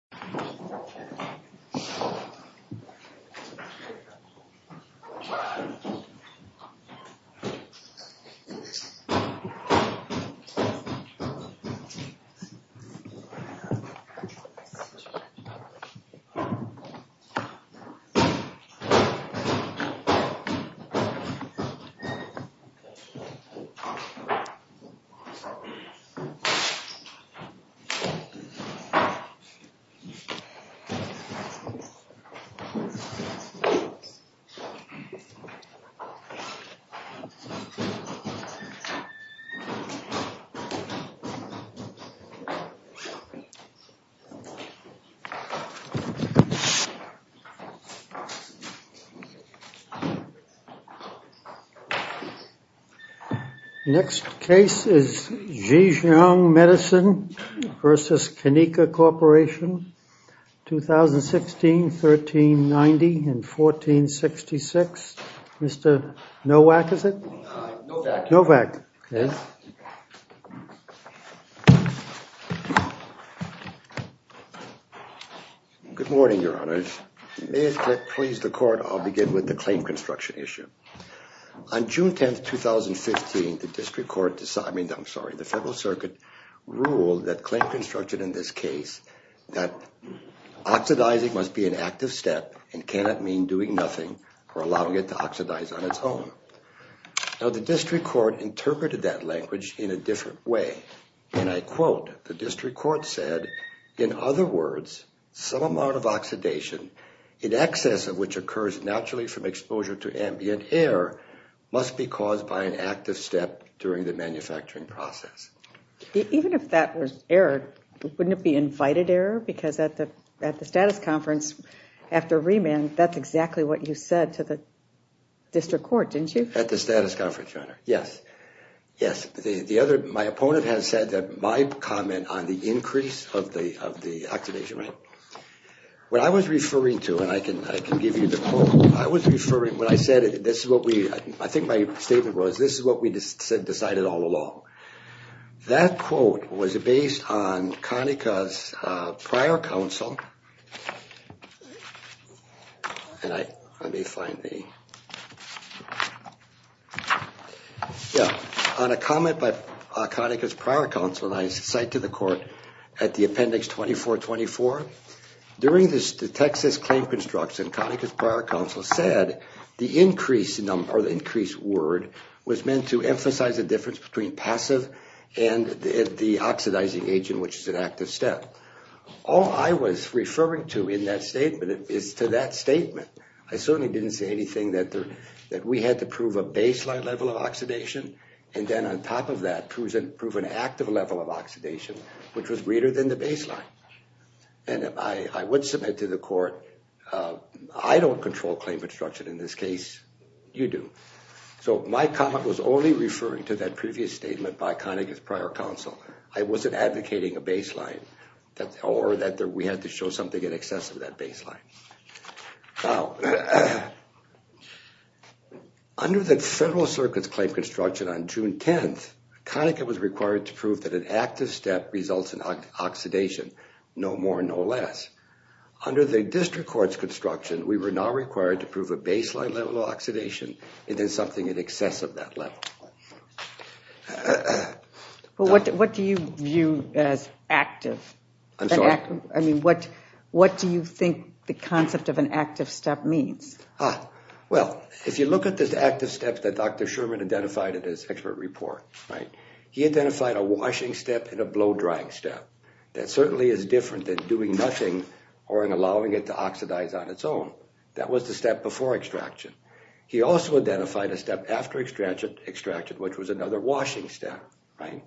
Next case. Next case is 2016 1390 and 1466. Mr. Nowak is it? Nowak, okay. Good morning, Your Honor. May it please the court, I'll begin with the claim construction issue. On June 10, 2015, the District Court decided, I mean, I'm sorry, the Federal Circuit ruled that claim construction in this case that oxidizing must be an active step and cannot mean doing nothing or allowing it to oxidize on its own. Now the District Court interpreted that language in a different way and I quote, the District Court said, in other words, some amount of oxidation in excess of which occurs naturally from exposure to ambient air must be caused by an active step during the Wouldn't it be invited error? Because at the at the status conference after remand, that's exactly what you said to the District Court, didn't you? At the status conference, Your Honor, yes, yes. The other, my opponent has said that my comment on the increase of the of the oxidation rate, what I was referring to and I can give you the quote, I was referring, when I said it, this is what we, I think my statement was, this is what we decided all along. That quote was based on Konica's prior counsel and I, let me find the, yeah, on a comment by Konica's prior counsel and I cite to the court at the Appendix 2424. During this, the Texas claim construction, Konica's prior counsel said the increase in number, or the increase word, was meant to emphasize the difference between passive and the oxidizing agent, which is an active step. All I was referring to in that statement is to that statement. I certainly didn't say anything that there, that we had to prove a baseline level of oxidation and then on top of that, prove an active level of oxidation, which was greater than the baseline. And I would submit to the court, I don't control claim construction in this case, you do. So my comment was only referring to that previous statement by Konica's prior counsel. I wasn't advocating a baseline that, or that we had to show something in excess of that baseline. Now, under the Federal Circuit's claim construction on June 10th, Konica was required to prove that an active step results in oxidation, no more no less. Under the District Court's construction, we were now required to prove a baseline level of oxidation and then something in excess of that level. But what do you view as active? I'm sorry? I mean, what do you think the concept of an active step means? Ah, well, if you look at this active step that Dr. Sherman identified in his expert report, right, he identified a washing step and a blow drying step. That certainly is different than doing nothing or allowing it to He also identified a step after extraction, which was another washing step, right?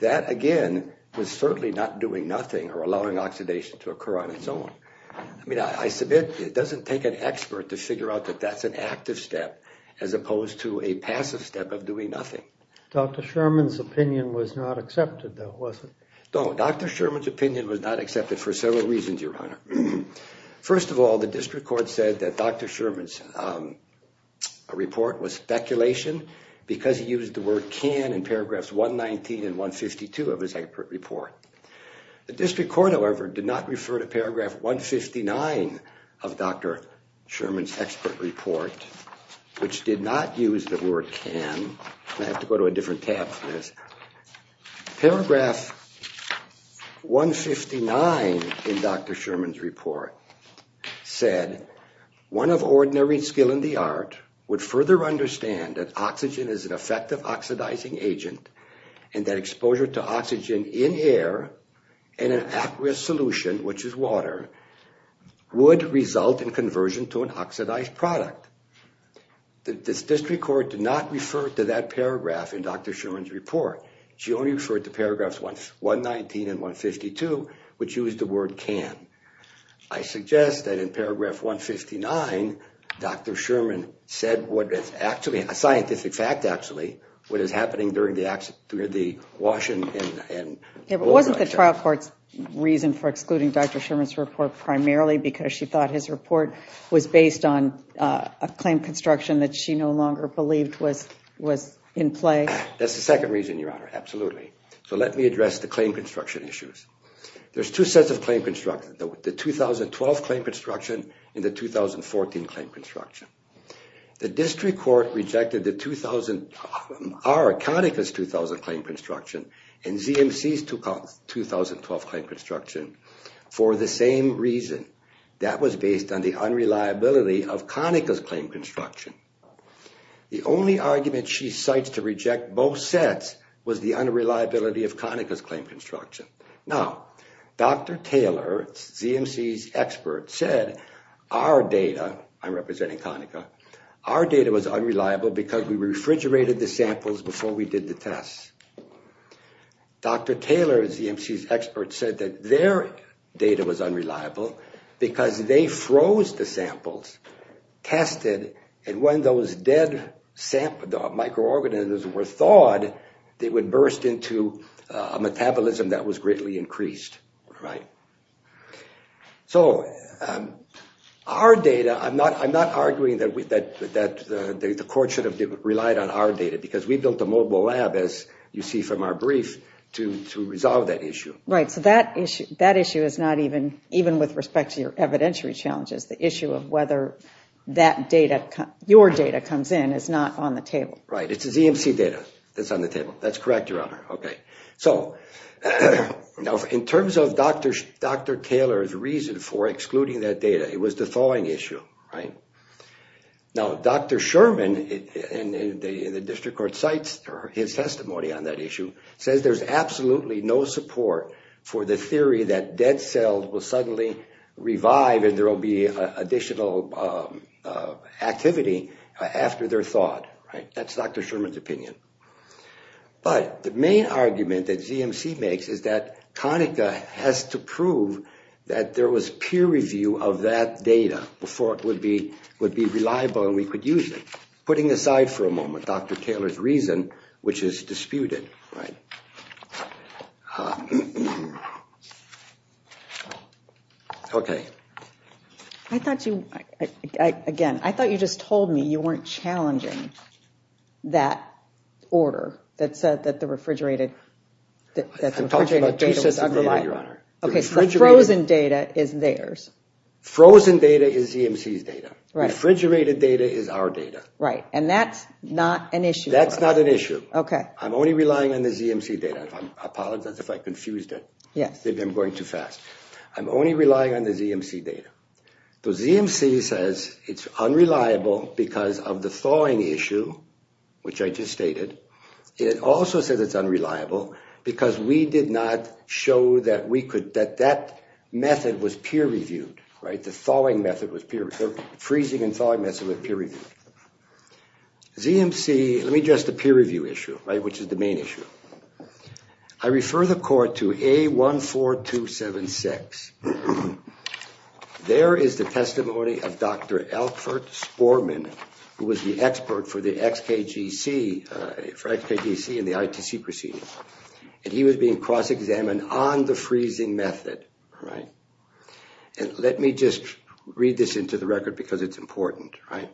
That, again, was certainly not doing nothing or allowing oxidation to occur on its own. I mean, I submit it doesn't take an expert to figure out that that's an active step as opposed to a passive step of doing nothing. Dr. Sherman's opinion was not accepted, though, was it? No, Dr. Sherman's opinion was not accepted for several reasons, Your Honor. First of all, the District Court, however, did not refer to Paragraph 159 of Dr. Sherman's expert report, which did not use the word can. I have to go to a different tab for this. Paragraph 159 in Dr. Sherman's report said, one of only two steps in the process of making an oxidation step is to would further understand that oxygen is an effective oxidizing agent and that exposure to oxygen in air and an aqueous solution, which is water, would result in conversion to an oxidized product. The District Court did not refer to that paragraph in Dr. Sherman's report. She only referred to Paragraphs 119 and 152, which used the word can. I suggest that in Paragraph 159, Dr. Sherman said what is actually a scientific fact, actually, what is happening during the wash and... Wasn't the trial court's reason for excluding Dr. Sherman's report primarily because she thought his report was based on a claim construction that she no longer believed was in play? That's the second reason, Your Honor, absolutely. So let me address the claim construction issues. There's two sets of claim construction, the 2012 claim construction and the 2014 claim construction. The District Court rejected the 2000, our Conaca's 2000 claim construction and ZMC's 2012 claim construction for the same reason. That was based on the unreliability of Conaca's claim construction. The only argument she cites to reject both sets was the unreliability of Conaca's claim construction. Now, Dr. Taylor, ZMC's expert, said our data, I'm representing Conaca, our data was unreliable because we refrigerated the samples before we did the tests. Dr. Taylor, ZMC's expert, said that their data was unreliable because they froze the samples, tested, and when those dead microorganisms were thawed, they would burst into a metabolism that was greatly increased. So, our data, I'm not arguing that the court should have relied on our data because we built a mobile lab, as you see from our brief, to resolve that issue. Right, so that issue is not even with respect to your evidentiary challenges, the issue of whether your data comes in is not on the table. Right, it's ZMC data that's on the table. That's correct, Your Honor. Okay, so now in terms of Dr. Taylor's reason for excluding that data, it was the thawing issue, right? Now, Dr. Sherman in the district court cites his testimony on that issue, says there's absolutely no support for the theory that dead cells will suddenly revive and there will be additional activity after they're thawed. Right, that's Dr. Sherman's opinion. But the main argument that ZMC makes is that CONICA has to prove that there was peer review of that data before it would be reliable and we could use it. Putting aside for a moment, Dr. Taylor's reason, which is disputed. Right. Okay. I thought you, again, I thought you just told me you weren't challenging that order that said that the refrigerated data was unreliable. I'm talking about two sets of data, Your Honor. Okay, so frozen data is theirs. Frozen data is ZMC's data. Right. Refrigerated data is our data. Right, and that's not an issue. Okay. I'm only relying on the ZMC data. I apologize if I confused it. Yes. Maybe I'm going too fast. I'm only relying on the ZMC data. The ZMC says it's unreliable because of the thawing issue, which I just stated. It also says it's unreliable because we did not show that we could, that that method was peer reviewed. Right, the thawing method was peer reviewed, the freezing and thawing method was peer reviewed. ZMC, let me address the peer review issue, right, which is the main issue. I refer the court to A14276. There is the testimony of Dr. Alfred Sporman, who was the expert for the XKGC, for XKGC and the ITC proceedings, and he was being cross examined on the freezing method. Right. And let me just read this into the record because it's important. Right.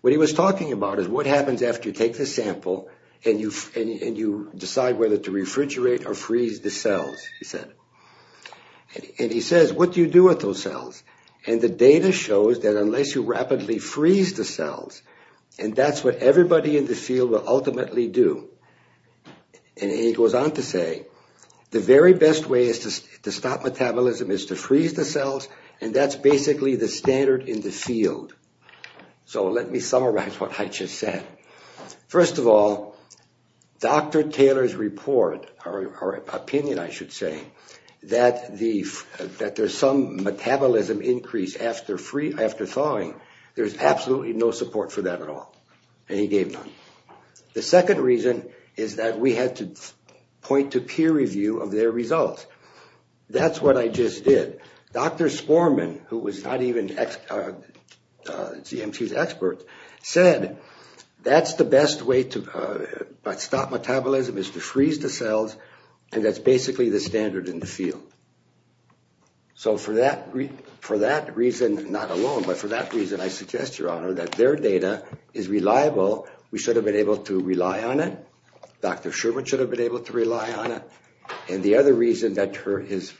What he was talking about is what happens after you take the sample and you decide whether to refrigerate or freeze the cells, he said. And he says, what do you do with those cells? And the data shows that unless you rapidly freeze the cells, and that's what everybody in the field will ultimately do. And he goes on to say, the very best way to stop metabolism is to freeze the cells, and that's basically the standard in the field. So let me summarize what I just said. First of all, Dr. Taylor's report, or opinion I should say, that there's some metabolism increase after thawing, there's absolutely no support for that at all, and he gave none. The second reason is that we had to point to peer review of their results. That's what I just did. Dr. Sporman, who was not even GMT's expert, said that's the best way to stop metabolism is to freeze the cells, and that's basically the standard in the field. So for that reason, not alone, but for that reason, I suggest, Your Honor, that their data is reliable. We should have been able to rely on it. Dr. Sherman should have been able to rely on it. And the other reason that his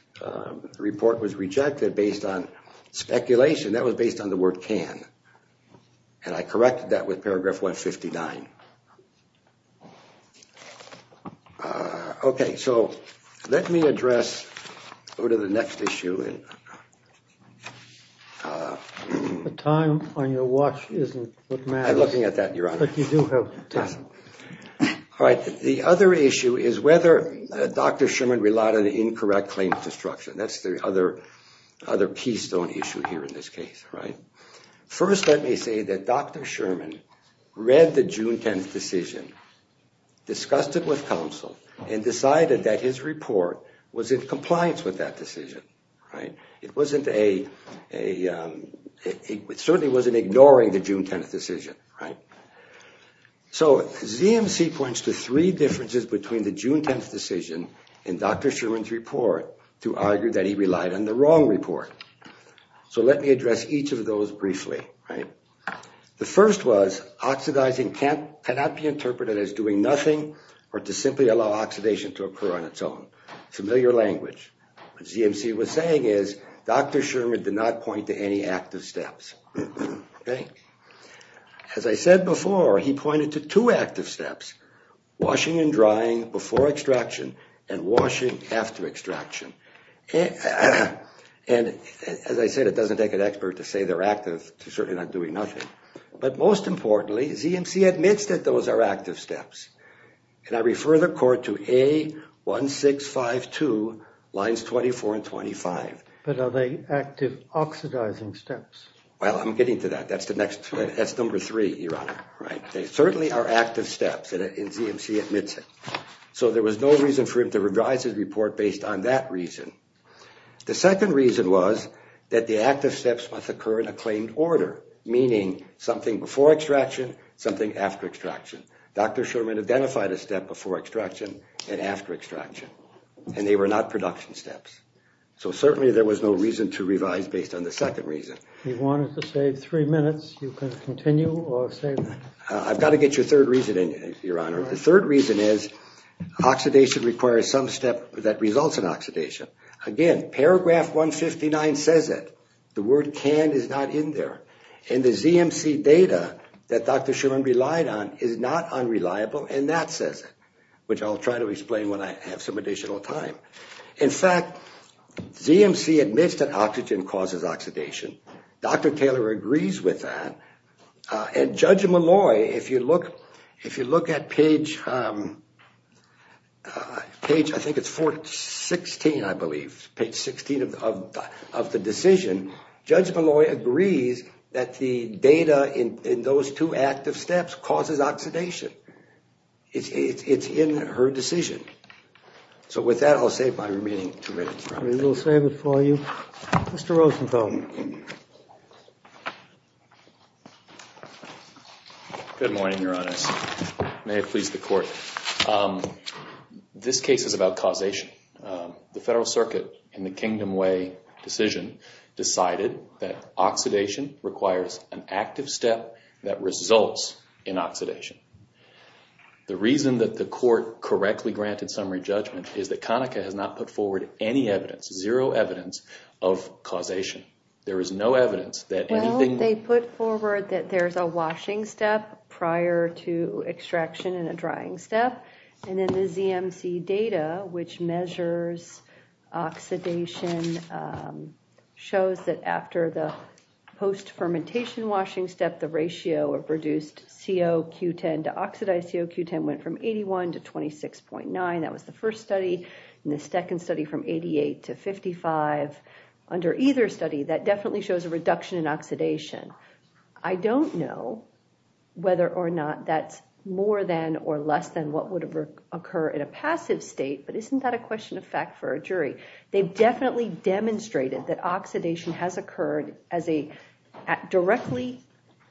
report was rejected based on speculation, that was based on the word can, and I corrected that with paragraph 159. Okay, so let me address, go to the next issue. The time on your watch isn't what matters. I'm looking at that, Your Honor. But you do have time. All right, the other issue is whether Dr. Sherman relied on an incorrect claim to destruction. That's the other keystone issue here in this case. First, let me say that Dr. Sherman read the June 10th decision, discussed it with counsel, and decided that his report was in compliance with that decision. It certainly wasn't ignoring the June 10th decision. So ZMC points to three differences between the June 10th decision and Dr. Sherman's report to argue that he relied on the wrong report. So let me address each of those briefly. The first was oxidizing cannot be interpreted as doing nothing or to simply allow oxidation to occur on its own. Familiar language. What ZMC was saying is Dr. Sherman did not point to any active steps. As I said before, he pointed to two active steps, washing and drying before extraction and washing after extraction. And as I said, it doesn't take an expert to say they're active to certainly not doing nothing. But most importantly, ZMC admits that those are active steps. And I refer the court to A1652 lines 24 and 25. But are they active oxidizing steps? Well, I'm getting to that. That's the next. That's number three, Your Honor. They certainly are active steps and ZMC admits it. So there was no reason for him to revise his report based on that reason. The second reason was that the active steps must occur in a claimed order, meaning something before extraction, something after extraction. Dr. Sherman identified a step before extraction and after extraction, and they were not production steps. So certainly there was no reason to revise based on the second reason. He wanted to save three minutes. You can continue or save. I've got to get your third reasoning, Your Honor. The third reason is oxidation requires some step that results in oxidation. Again, paragraph 159 says it. The word can is not in there. And the ZMC data that Dr. Sherman relied on is not unreliable. And that says it, which I'll try to explain when I have some additional time. In fact, ZMC admits that oxygen causes oxidation. Dr. Taylor agrees with that. And Judge Malloy, if you look at page, I think it's 416, I believe, page 16 of the decision, Judge Malloy agrees that the data in those two active steps causes oxidation. It's in her decision. So with that, I'll save my remaining two minutes. We will save it for you. Mr. Rosenthal. Good morning, Your Honor. May it please the Court. This case is about causation. The Federal Circuit, in the Kingdom Way decision, decided that oxidation requires an active step that results in oxidation. The reason that the Court correctly granted summary judgment is that Conaca has not put forward any evidence, zero evidence, of causation. There is no evidence that anything... And in the ZMC data, which measures oxidation, shows that after the post-fermentation washing step, the ratio of reduced COQ10 to oxidized COQ10 went from 81 to 26.9. That was the first study. In the second study, from 88 to 55. Under either study, that definitely shows a reduction in oxidation. I don't know whether or not that's more than or less than what would occur in a passive state, but isn't that a question of fact for a jury? They've definitely demonstrated that oxidation has occurred directly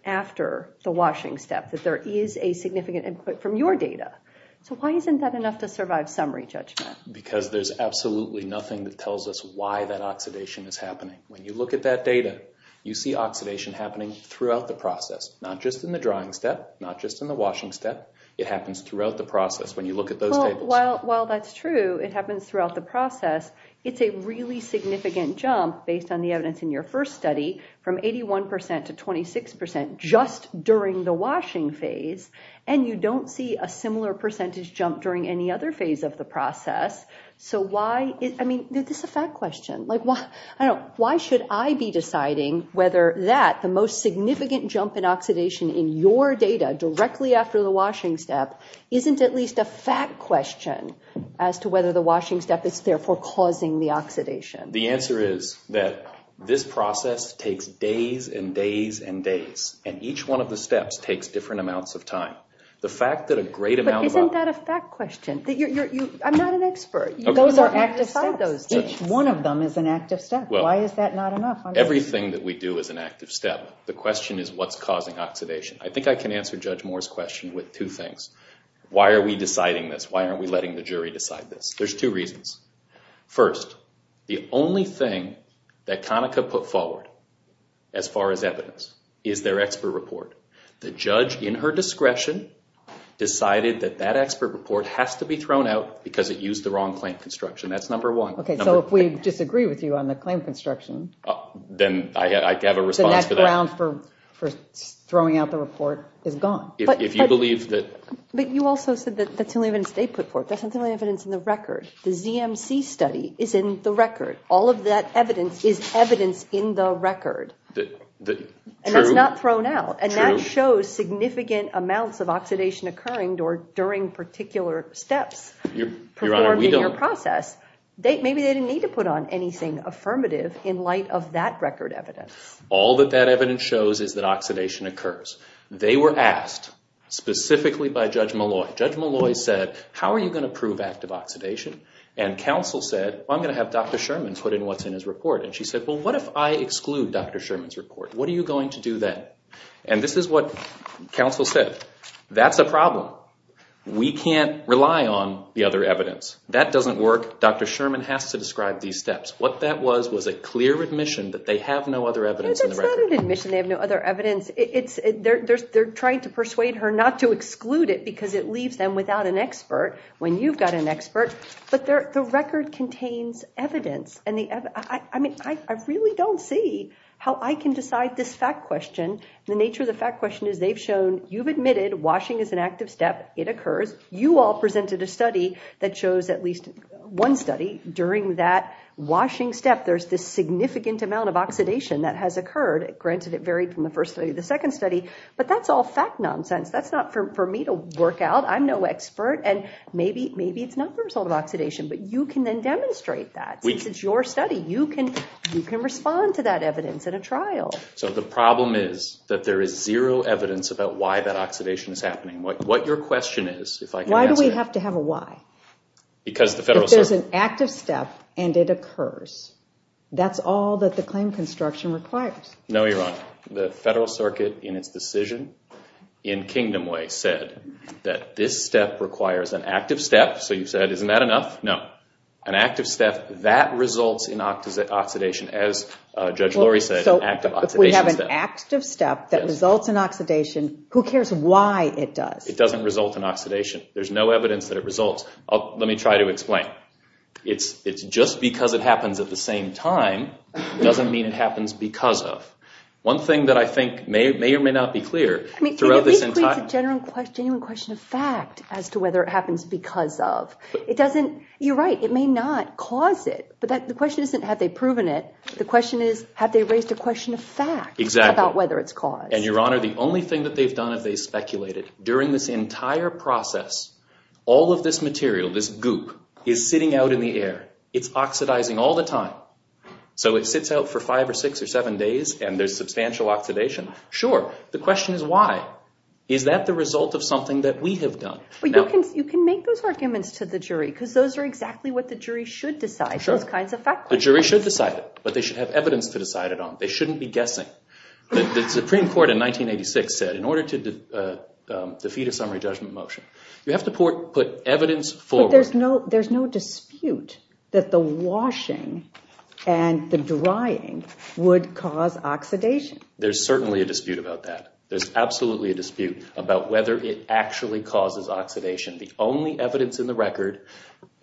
after the washing step, that there is a significant input from your data. So why isn't that enough to survive summary judgment? Because there's absolutely nothing that tells us why that oxidation is happening. When you look at that data, you see oxidation happening throughout the process, not just in the drying step, not just in the washing step. It happens throughout the process when you look at those tables. Well, that's true. It happens throughout the process. It's a really significant jump, based on the evidence in your first study, from 81% to 26% just during the washing phase, and you don't see a similar percentage jump during any other phase of the process. I mean, is this a fact question? Why should I be deciding whether that, the most significant jump in oxidation in your data, directly after the washing step, isn't at least a fact question as to whether the washing step is therefore causing the oxidation? The answer is that this process takes days and days and days, and each one of the steps takes different amounts of time. But isn't that a fact question? I'm not an expert. Those are active steps. One of them is an active step. Why is that not enough? Everything that we do is an active step. The question is, what's causing oxidation? I think I can answer Judge Moore's question with two things. Why are we deciding this? Why aren't we letting the jury decide this? There's two reasons. First, the only thing that Conaca put forward, as far as evidence, is their expert report. The judge, in her discretion, decided that that expert report has to be thrown out because it used the wrong claim construction. That's number one. Okay, so if we disagree with you on the claim construction... Then I have a response to that. ...then that ground for throwing out the report is gone. If you believe that... But you also said that that's the only evidence they put forth. That's the only evidence in the record. The ZMC study is in the record. All of that evidence is evidence in the record. True. It's not thrown out. True. And that shows significant amounts of oxidation occurring during particular steps... Your Honor, we don't... ...performed in your process. Maybe they didn't need to put on anything affirmative in light of that record evidence. All that that evidence shows is that oxidation occurs. They were asked, specifically by Judge Malloy, Judge Malloy said, how are you going to prove active oxidation? And counsel said, I'm going to have Dr. Sherman put in what's in his report. And she said, well, what if I exclude Dr. Sherman's report? What are you going to do then? And this is what counsel said. That's a problem. We can't rely on the other evidence. That doesn't work. Dr. Sherman has to describe these steps. What that was was a clear admission that they have no other evidence in the record. That's not an admission they have no other evidence. They're trying to persuade her not to exclude it because it leaves them without an expert when you've got an expert. But the record contains evidence. I really don't see how I can decide this fact question. The nature of the fact question is they've shown you've admitted washing is an active step. It occurs. You all presented a study that shows at least one study during that washing step, there's this significant amount of oxidation that has occurred. Granted, it varied from the first study to the second study. But that's all fact nonsense. That's not for me to work out. I'm no expert. And maybe it's not the result of oxidation. But you can then demonstrate that. It's your study. You can respond to that evidence at a trial. So the problem is that there is zero evidence about why that oxidation is happening. What your question is, if I can answer it. Why do we have to have a why? Because the Federal Circuit... If there's an active step and it occurs, that's all that the claim construction requires. No, you're wrong. The Federal Circuit in its decision in Kingdom Way said that this step requires an active step. So you said, isn't that enough? No. An active step, that results in oxidation, as Judge Lori said, an active oxidation step. So if we have an active step that results in oxidation, who cares why it does? It doesn't result in oxidation. There's no evidence that it results. Let me try to explain. It's just because it happens at the same time doesn't mean it happens because of. One thing that I think may or may not be clear throughout this entire... I mean, at least it's a genuine question of fact as to whether it happens because of. It doesn't... You're right. It may not cause it. But the question isn't have they proven it. The question is have they raised a question of fact about whether it's caused. Exactly. And, Your Honor, the only thing that they've done is they've speculated. During this entire process, all of this material, this goop, is sitting out in the air. It's oxidizing all the time. So it sits out for five or six or seven days and there's substantial oxidation. Sure. The question is why. Is that the result of something that we have done? You can make those arguments to the jury because those are exactly what the jury should decide. Sure. Those kinds of fact questions. The jury should decide it, but they should have evidence to decide it on. They shouldn't be guessing. The Supreme Court in 1986 said in order to defeat a summary judgment motion, you have to put evidence forward. But there's no dispute that the washing and the drying would cause oxidation. There's certainly a dispute about that. There's absolutely a dispute about whether it actually causes oxidation. The only evidence in the record,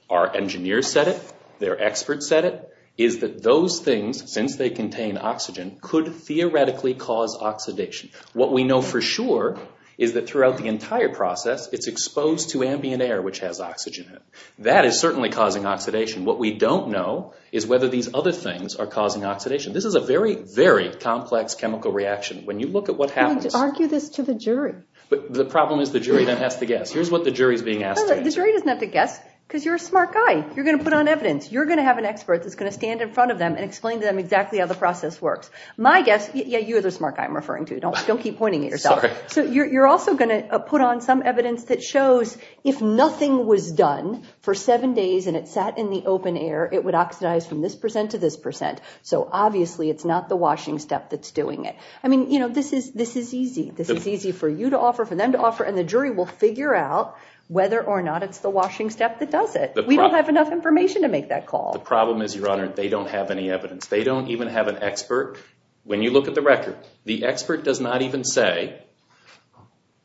our engineers said it, their experts said it, is that those things, since they contain oxygen, could theoretically cause oxidation. What we know for sure is that throughout the entire process, it's exposed to ambient air, which has oxygen in it. That is certainly causing oxidation. What we don't know is whether these other things are causing oxidation. This is a very, very complex chemical reaction. When you look at what happens— You need to argue this to the jury. The problem is the jury doesn't have to guess. Here's what the jury is being asked to do. The jury doesn't have to guess because you're a smart guy. You're going to put on evidence. You're going to have an expert that's going to stand in front of them and explain to them exactly how the process works. My guess—yeah, you're the smart guy I'm referring to. Don't keep pointing at yourself. You're also going to put on some evidence that shows if nothing was done for seven days and it sat in the open air, it would oxidize from this percent to this percent, so obviously it's not the washing step that's doing it. I mean, you know, this is easy. This is easy for you to offer, for them to offer, and the jury will figure out whether or not it's the washing step that does it. We don't have enough information to make that call. The problem is, Your Honor, they don't have any evidence. They don't even have an expert. When you look at the record, the expert does not even say,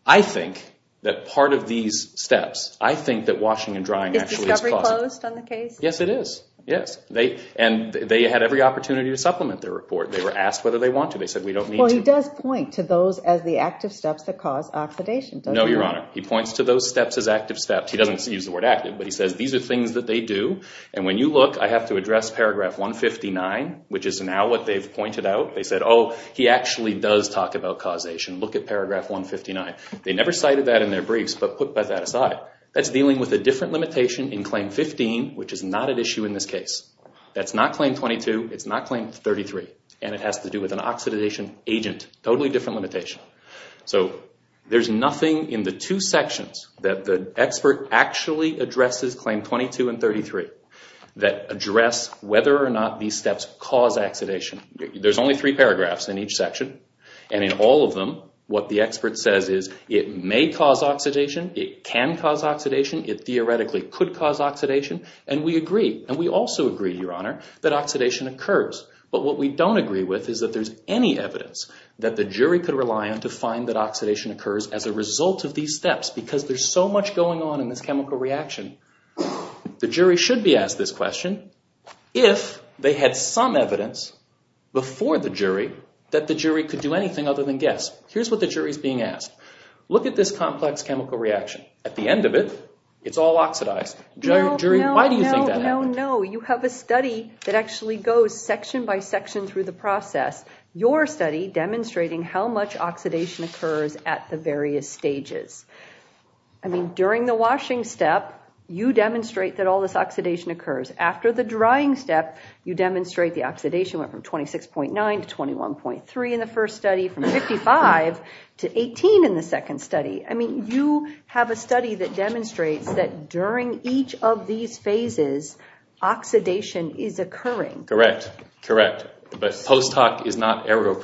I think that part of these steps, I think that washing and drying actually is causing— Is discovery closed on the case? Yes, it is. Yes. And they had every opportunity to supplement their report. They were asked whether they want to. They said, we don't need to. Well, he does point to those as the active steps that cause oxidation, doesn't he? No, Your Honor. He points to those steps as active steps. He doesn't use the word active, but he says these are things that they do, and when you look, I have to address paragraph 159, which is now what they've pointed out. They said, oh, he actually does talk about causation. Look at paragraph 159. They never cited that in their briefs, but put that aside. That's dealing with a different limitation in Claim 15, which is not at issue in this case. That's not Claim 22. It's not Claim 33, and it has to do with an oxidation agent. Totally different limitation. So there's nothing in the two sections that the expert actually addresses Claim 22 and 33 that address whether or not these steps cause oxidation. There's only three paragraphs in each section, and in all of them, what the expert says is, it may cause oxidation, it can cause oxidation, it theoretically could cause oxidation, and we agree, and we also agree, Your Honor, that oxidation occurs. But what we don't agree with is that there's any evidence that the jury could rely on to find that oxidation occurs as a result of these steps because there's so much going on in this chemical reaction. The jury should be asked this question if they had some evidence before the jury that the jury could do anything other than guess. Here's what the jury's being asked. Look at this complex chemical reaction. At the end of it, it's all oxidized. Why do you think that happened? No, you have a study that actually goes section by section through the process, your study demonstrating how much oxidation occurs at the various stages. I mean, during the washing step, you demonstrate that all this oxidation occurs. After the drying step, you demonstrate the oxidation went from 26.9 to 21.3 in the first study, from 55 to 18 in the second study. I mean, you have a study that demonstrates that during each of these phases, oxidation is occurring. Correct, correct. But post hoc is not ergo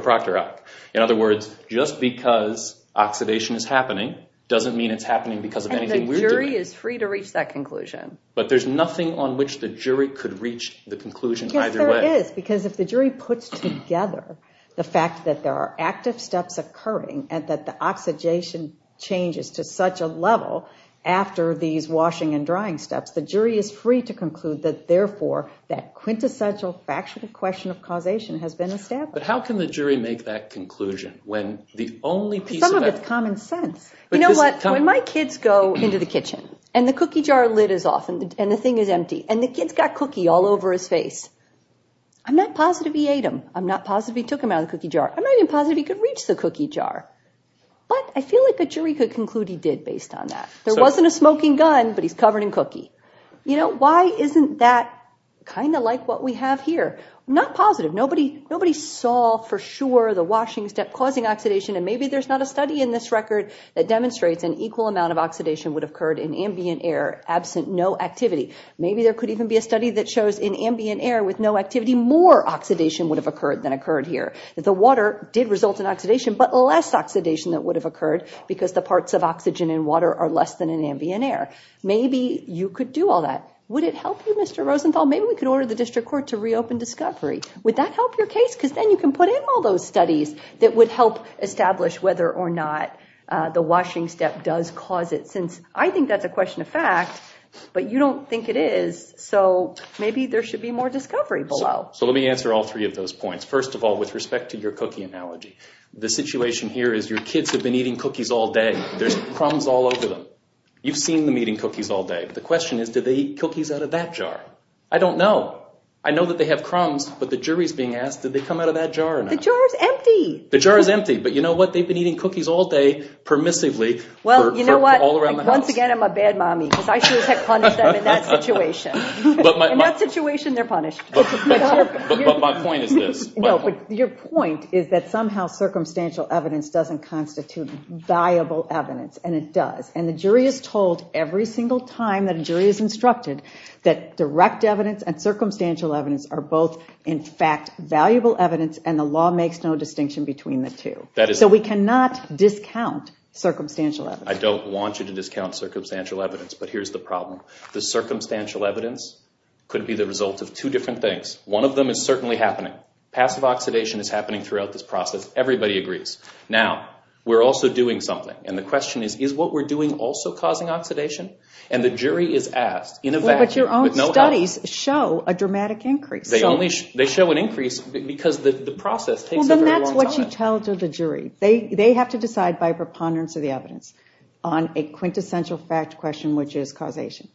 proctor hoc. In other words, just because oxidation is happening doesn't mean it's happening because of anything we're doing. And the jury is free to reach that conclusion. But there's nothing on which the jury could reach the conclusion either way. Yes, there is, because if the jury puts together the fact that there are active steps occurring and that the oxidation changes to such a level after these washing and drying steps, the jury is free to conclude that, therefore, that quintessential factual question of causation has been established. But how can the jury make that conclusion when the only piece of evidence— Some of it's common sense. You know what? When my kids go into the kitchen and the cookie jar lid is off and the thing is empty and the kid's got cookie all over his face, I'm not positive he ate him. I'm not positive he took him out of the cookie jar. I'm not even positive he could reach the cookie jar. But I feel like a jury could conclude he did based on that. There wasn't a smoking gun, but he's covered in cookie. You know, why isn't that kind of like what we have here? I'm not positive. Nobody saw for sure the washing step causing oxidation, and maybe there's not a study in this record that demonstrates an equal amount of oxidation would have occurred in ambient air absent no activity. Maybe there could even be a study that shows in ambient air with no activity, more oxidation would have occurred than occurred here. The water did result in oxidation, but less oxidation that would have occurred because the parts of oxygen in water are less than in ambient air. Maybe you could do all that. Would it help you, Mr. Rosenthal? Maybe we could order the district court to reopen discovery. Would that help your case? Because then you can put in all those studies that would help establish whether or not the washing step does cause it, since I think that's a question of fact, but you don't think it is, so maybe there should be more discovery below. So let me answer all three of those points. First of all, with respect to your cookie analogy, the situation here is your kids have been eating cookies all day. There's crumbs all over them. You've seen them eating cookies all day. The question is, did they eat cookies out of that jar? I don't know. I know that they have crumbs, but the jury is being asked, did they come out of that jar or not? The jar is empty. The jar is empty, but you know what? They've been eating cookies all day permissively for all around the house. Well, you know what? Once again, I'm a bad mommy because I should have punished them in that situation. In that situation, they're punished. But my point is this. No, but your point is that somehow circumstantial evidence doesn't constitute viable evidence, and it does, and the jury is told every single time that a jury is instructed that direct evidence and circumstantial evidence are both, in fact, valuable evidence, and the law makes no distinction between the two. So we cannot discount circumstantial evidence. I don't want you to discount circumstantial evidence, but here's the problem. The circumstantial evidence could be the result of two different things. One of them is certainly happening. Passive oxidation is happening throughout this process. Everybody agrees. Now, we're also doing something, and the question is, is what we're doing also causing oxidation? And the jury is asked in a vacuum with no help. Well, but your own studies show a dramatic increase. They show an increase because the process takes a very long time. Well, and that's what you tell to the jury. They have to decide by preponderance of the evidence on a quintessential fact question, which is causation.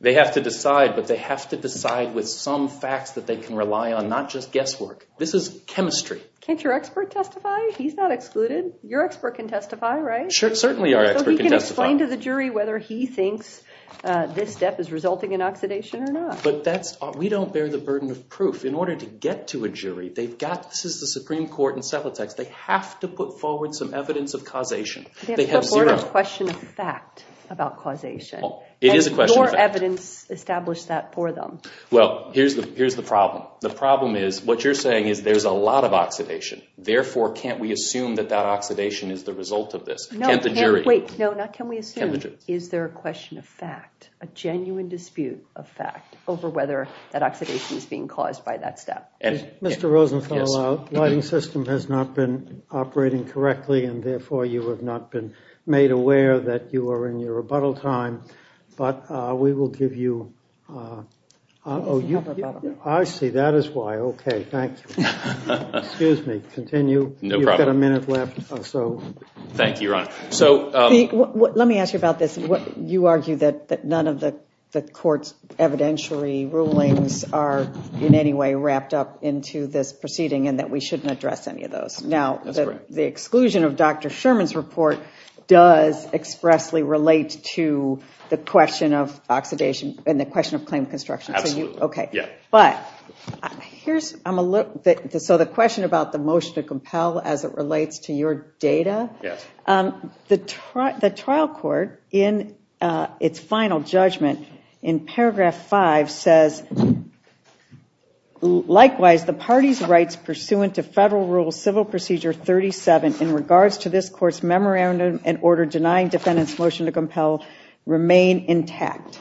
They have to decide, but they have to decide with some facts that they can rely on, not just guesswork. This is chemistry. Can't your expert testify? He's not excluded. Your expert can testify, right? Certainly our expert can testify. So he can explain to the jury whether he thinks this step is resulting in oxidation or not. But we don't bear the burden of proof. In order to get to a jury, they've got—this is the Supreme Court encephalotex. They have to put forward some evidence of causation. They have zero— They have to put forward a question of fact about causation. It is a question of fact. And your evidence established that for them. Well, here's the problem. The problem is, what you're saying is there's a lot of oxidation. Therefore, can't we assume that that oxidation is the result of this? Can't the jury— No, wait. No, not can we assume. Is there a question of fact, a genuine dispute of fact, over whether that oxidation is being caused by that step? Mr. Rosenthal, our lighting system has not been operating correctly. And, therefore, you have not been made aware that you are in your rebuttal time. But we will give you— I see. That is why. Okay. Thank you. Excuse me. Continue. You've got a minute left. Thank you, Your Honor. Let me ask you about this. You argue that none of the court's evidentiary rulings are in any way wrapped up into this proceeding and that we shouldn't address any of those. Now, the exclusion of Dr. Sherman's report does expressly relate to the question of oxidation and the question of claim construction. Absolutely. Okay. But here's— So the question about the motion to compel as it relates to your data. Yes. The trial court, in its final judgment, in paragraph 5 says, likewise, the party's rights pursuant to Federal Rule Civil Procedure 37 in regards to this court's memorandum and order denying defendants' motion to compel remain intact.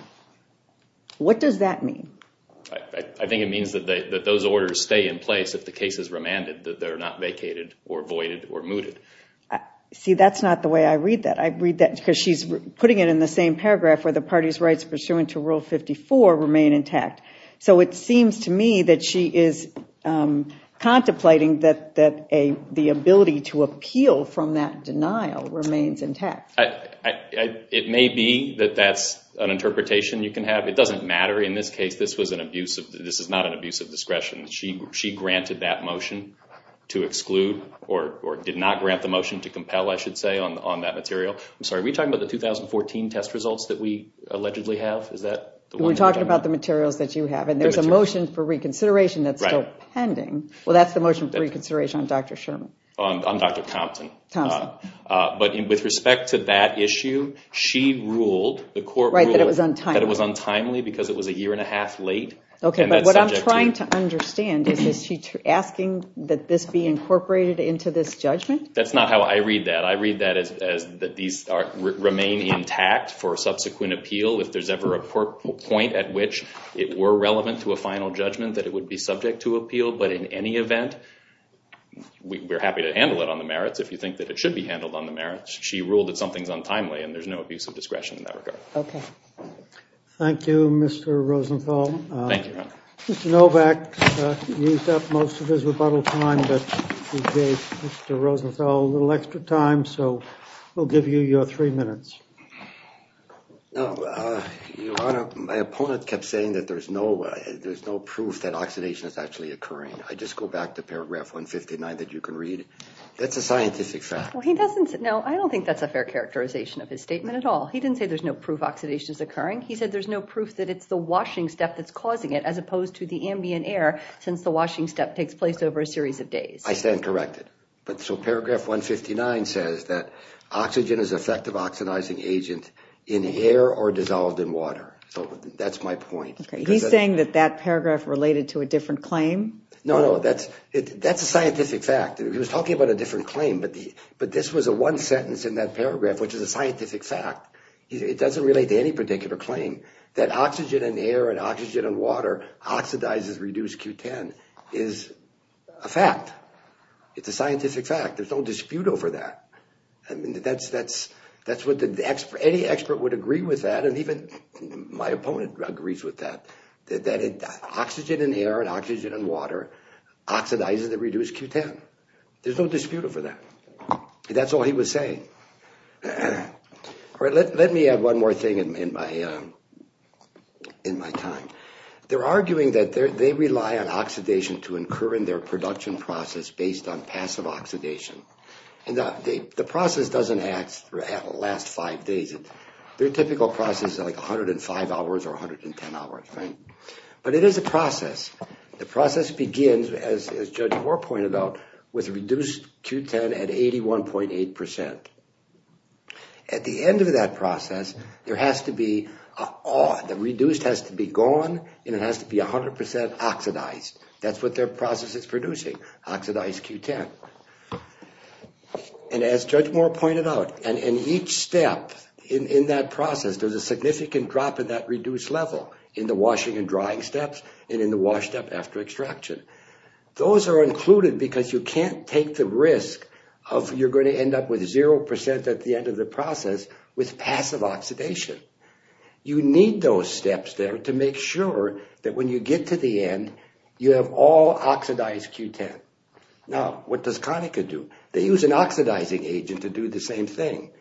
What does that mean? I think it means that those orders stay in place if the case is remanded, that they're not vacated or voided or mooted. See, that's not the way I read that. I read that because she's putting it in the same paragraph where the party's rights pursuant to Rule 54 remain intact. So it seems to me that she is contemplating that the ability to appeal from that denial remains intact. It may be that that's an interpretation you can have. It doesn't matter. In this case, this is not an abuse of discretion. She granted that motion to exclude or did not grant the motion to compel, I should say, on that material. I'm sorry, are we talking about the 2014 test results that we allegedly have? We're talking about the materials that you have. And there's a motion for reconsideration that's still pending. Well, that's the motion for reconsideration on Dr. Sherman. On Dr. Compton. But with respect to that issue, she ruled, the court ruled, that it was untimely because it was a year and a half late. Okay, but what I'm trying to understand is, is she asking that this be incorporated into this judgment? That's not how I read that. I read that as that these remain intact for subsequent appeal if there's ever a point at which it were relevant to a final judgment that it would be subject to appeal. But in any event, we're happy to handle it on the merits if you think that it should be handled on the merits. She ruled that something's untimely, and there's no abuse of discretion in that regard. Okay. Thank you, Mr. Rosenthal. Thank you, Your Honor. Mr. Novak used up most of his rebuttal time, but he gave Mr. Rosenthal a little extra time, so we'll give you your three minutes. No, Your Honor, my opponent kept saying that there's no proof that oxidation is actually occurring. I just go back to paragraph 159 that you can read. That's a scientific fact. Well, he doesn't – no, I don't think that's a fair characterization of his statement at all. He didn't say there's no proof oxidation is occurring. He said there's no proof that it's the washing step that's causing it as opposed to the ambient air since the washing step takes place over a series of days. I stand corrected. So paragraph 159 says that oxygen is an effective oxidizing agent in air or dissolved in water. So that's my point. He's saying that that paragraph related to a different claim? No, no, that's a scientific fact. He was talking about a different claim, but this was the one sentence in that paragraph, which is a scientific fact. It doesn't relate to any particular claim that oxygen in air and oxygen in water oxidizes reduced Q10 is a fact. It's a scientific fact. There's no dispute over that. That's what the – any expert would agree with that and even my opponent agrees with that, that oxygen in air and oxygen in water oxidizes the reduced Q10. There's no dispute over that. That's all he was saying. All right, let me add one more thing in my time. They're arguing that they rely on oxidation to incur in their production process based on passive oxidation, and the process doesn't last five days. Their typical process is like 105 hours or 110 hours, right? But it is a process. The process begins, as Judge Moore pointed out, with reduced Q10 at 81.8%. At the end of that process, there has to be – the reduced has to be gone and it has to be 100% oxidized. That's what their process is producing, oxidized Q10. And as Judge Moore pointed out, in each step in that process, there's a significant drop in that reduced level in the washing and drying steps and in the wash step after extraction. Those are included because you can't take the risk of you're going to end up with 0% at the end of the process with passive oxidation. You need those steps there to make sure that when you get to the end, you have all oxidized Q10. Now, what does Conica do? They use an oxidizing agent to do the same thing.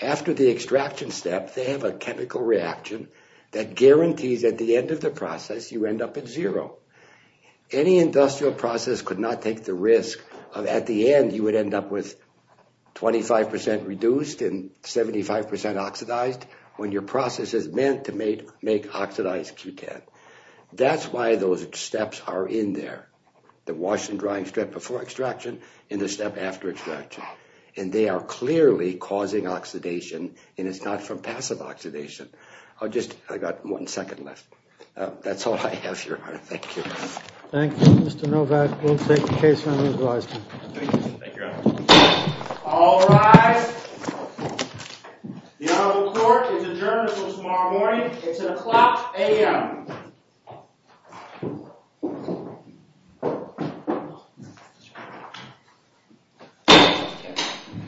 After the extraction step, they have a chemical reaction that guarantees at the end of the process, you end up at zero. Any industrial process could not take the risk of at the end, you would end up with 25% reduced and 75% oxidized when your process is meant to make oxidized Q10. That's why those steps are in there, the wash and drying step before extraction and the step after extraction. And they are clearly causing oxidation and it's not from passive oxidation. I've just – I've got one second left. That's all I have, Your Honor. Thank you. Thank you, Mr. Novak. We'll take the case for an advisory. Thank you, Your Honor. All rise. The Honorable Court is adjourned until tomorrow morning. It's at o'clock a.m.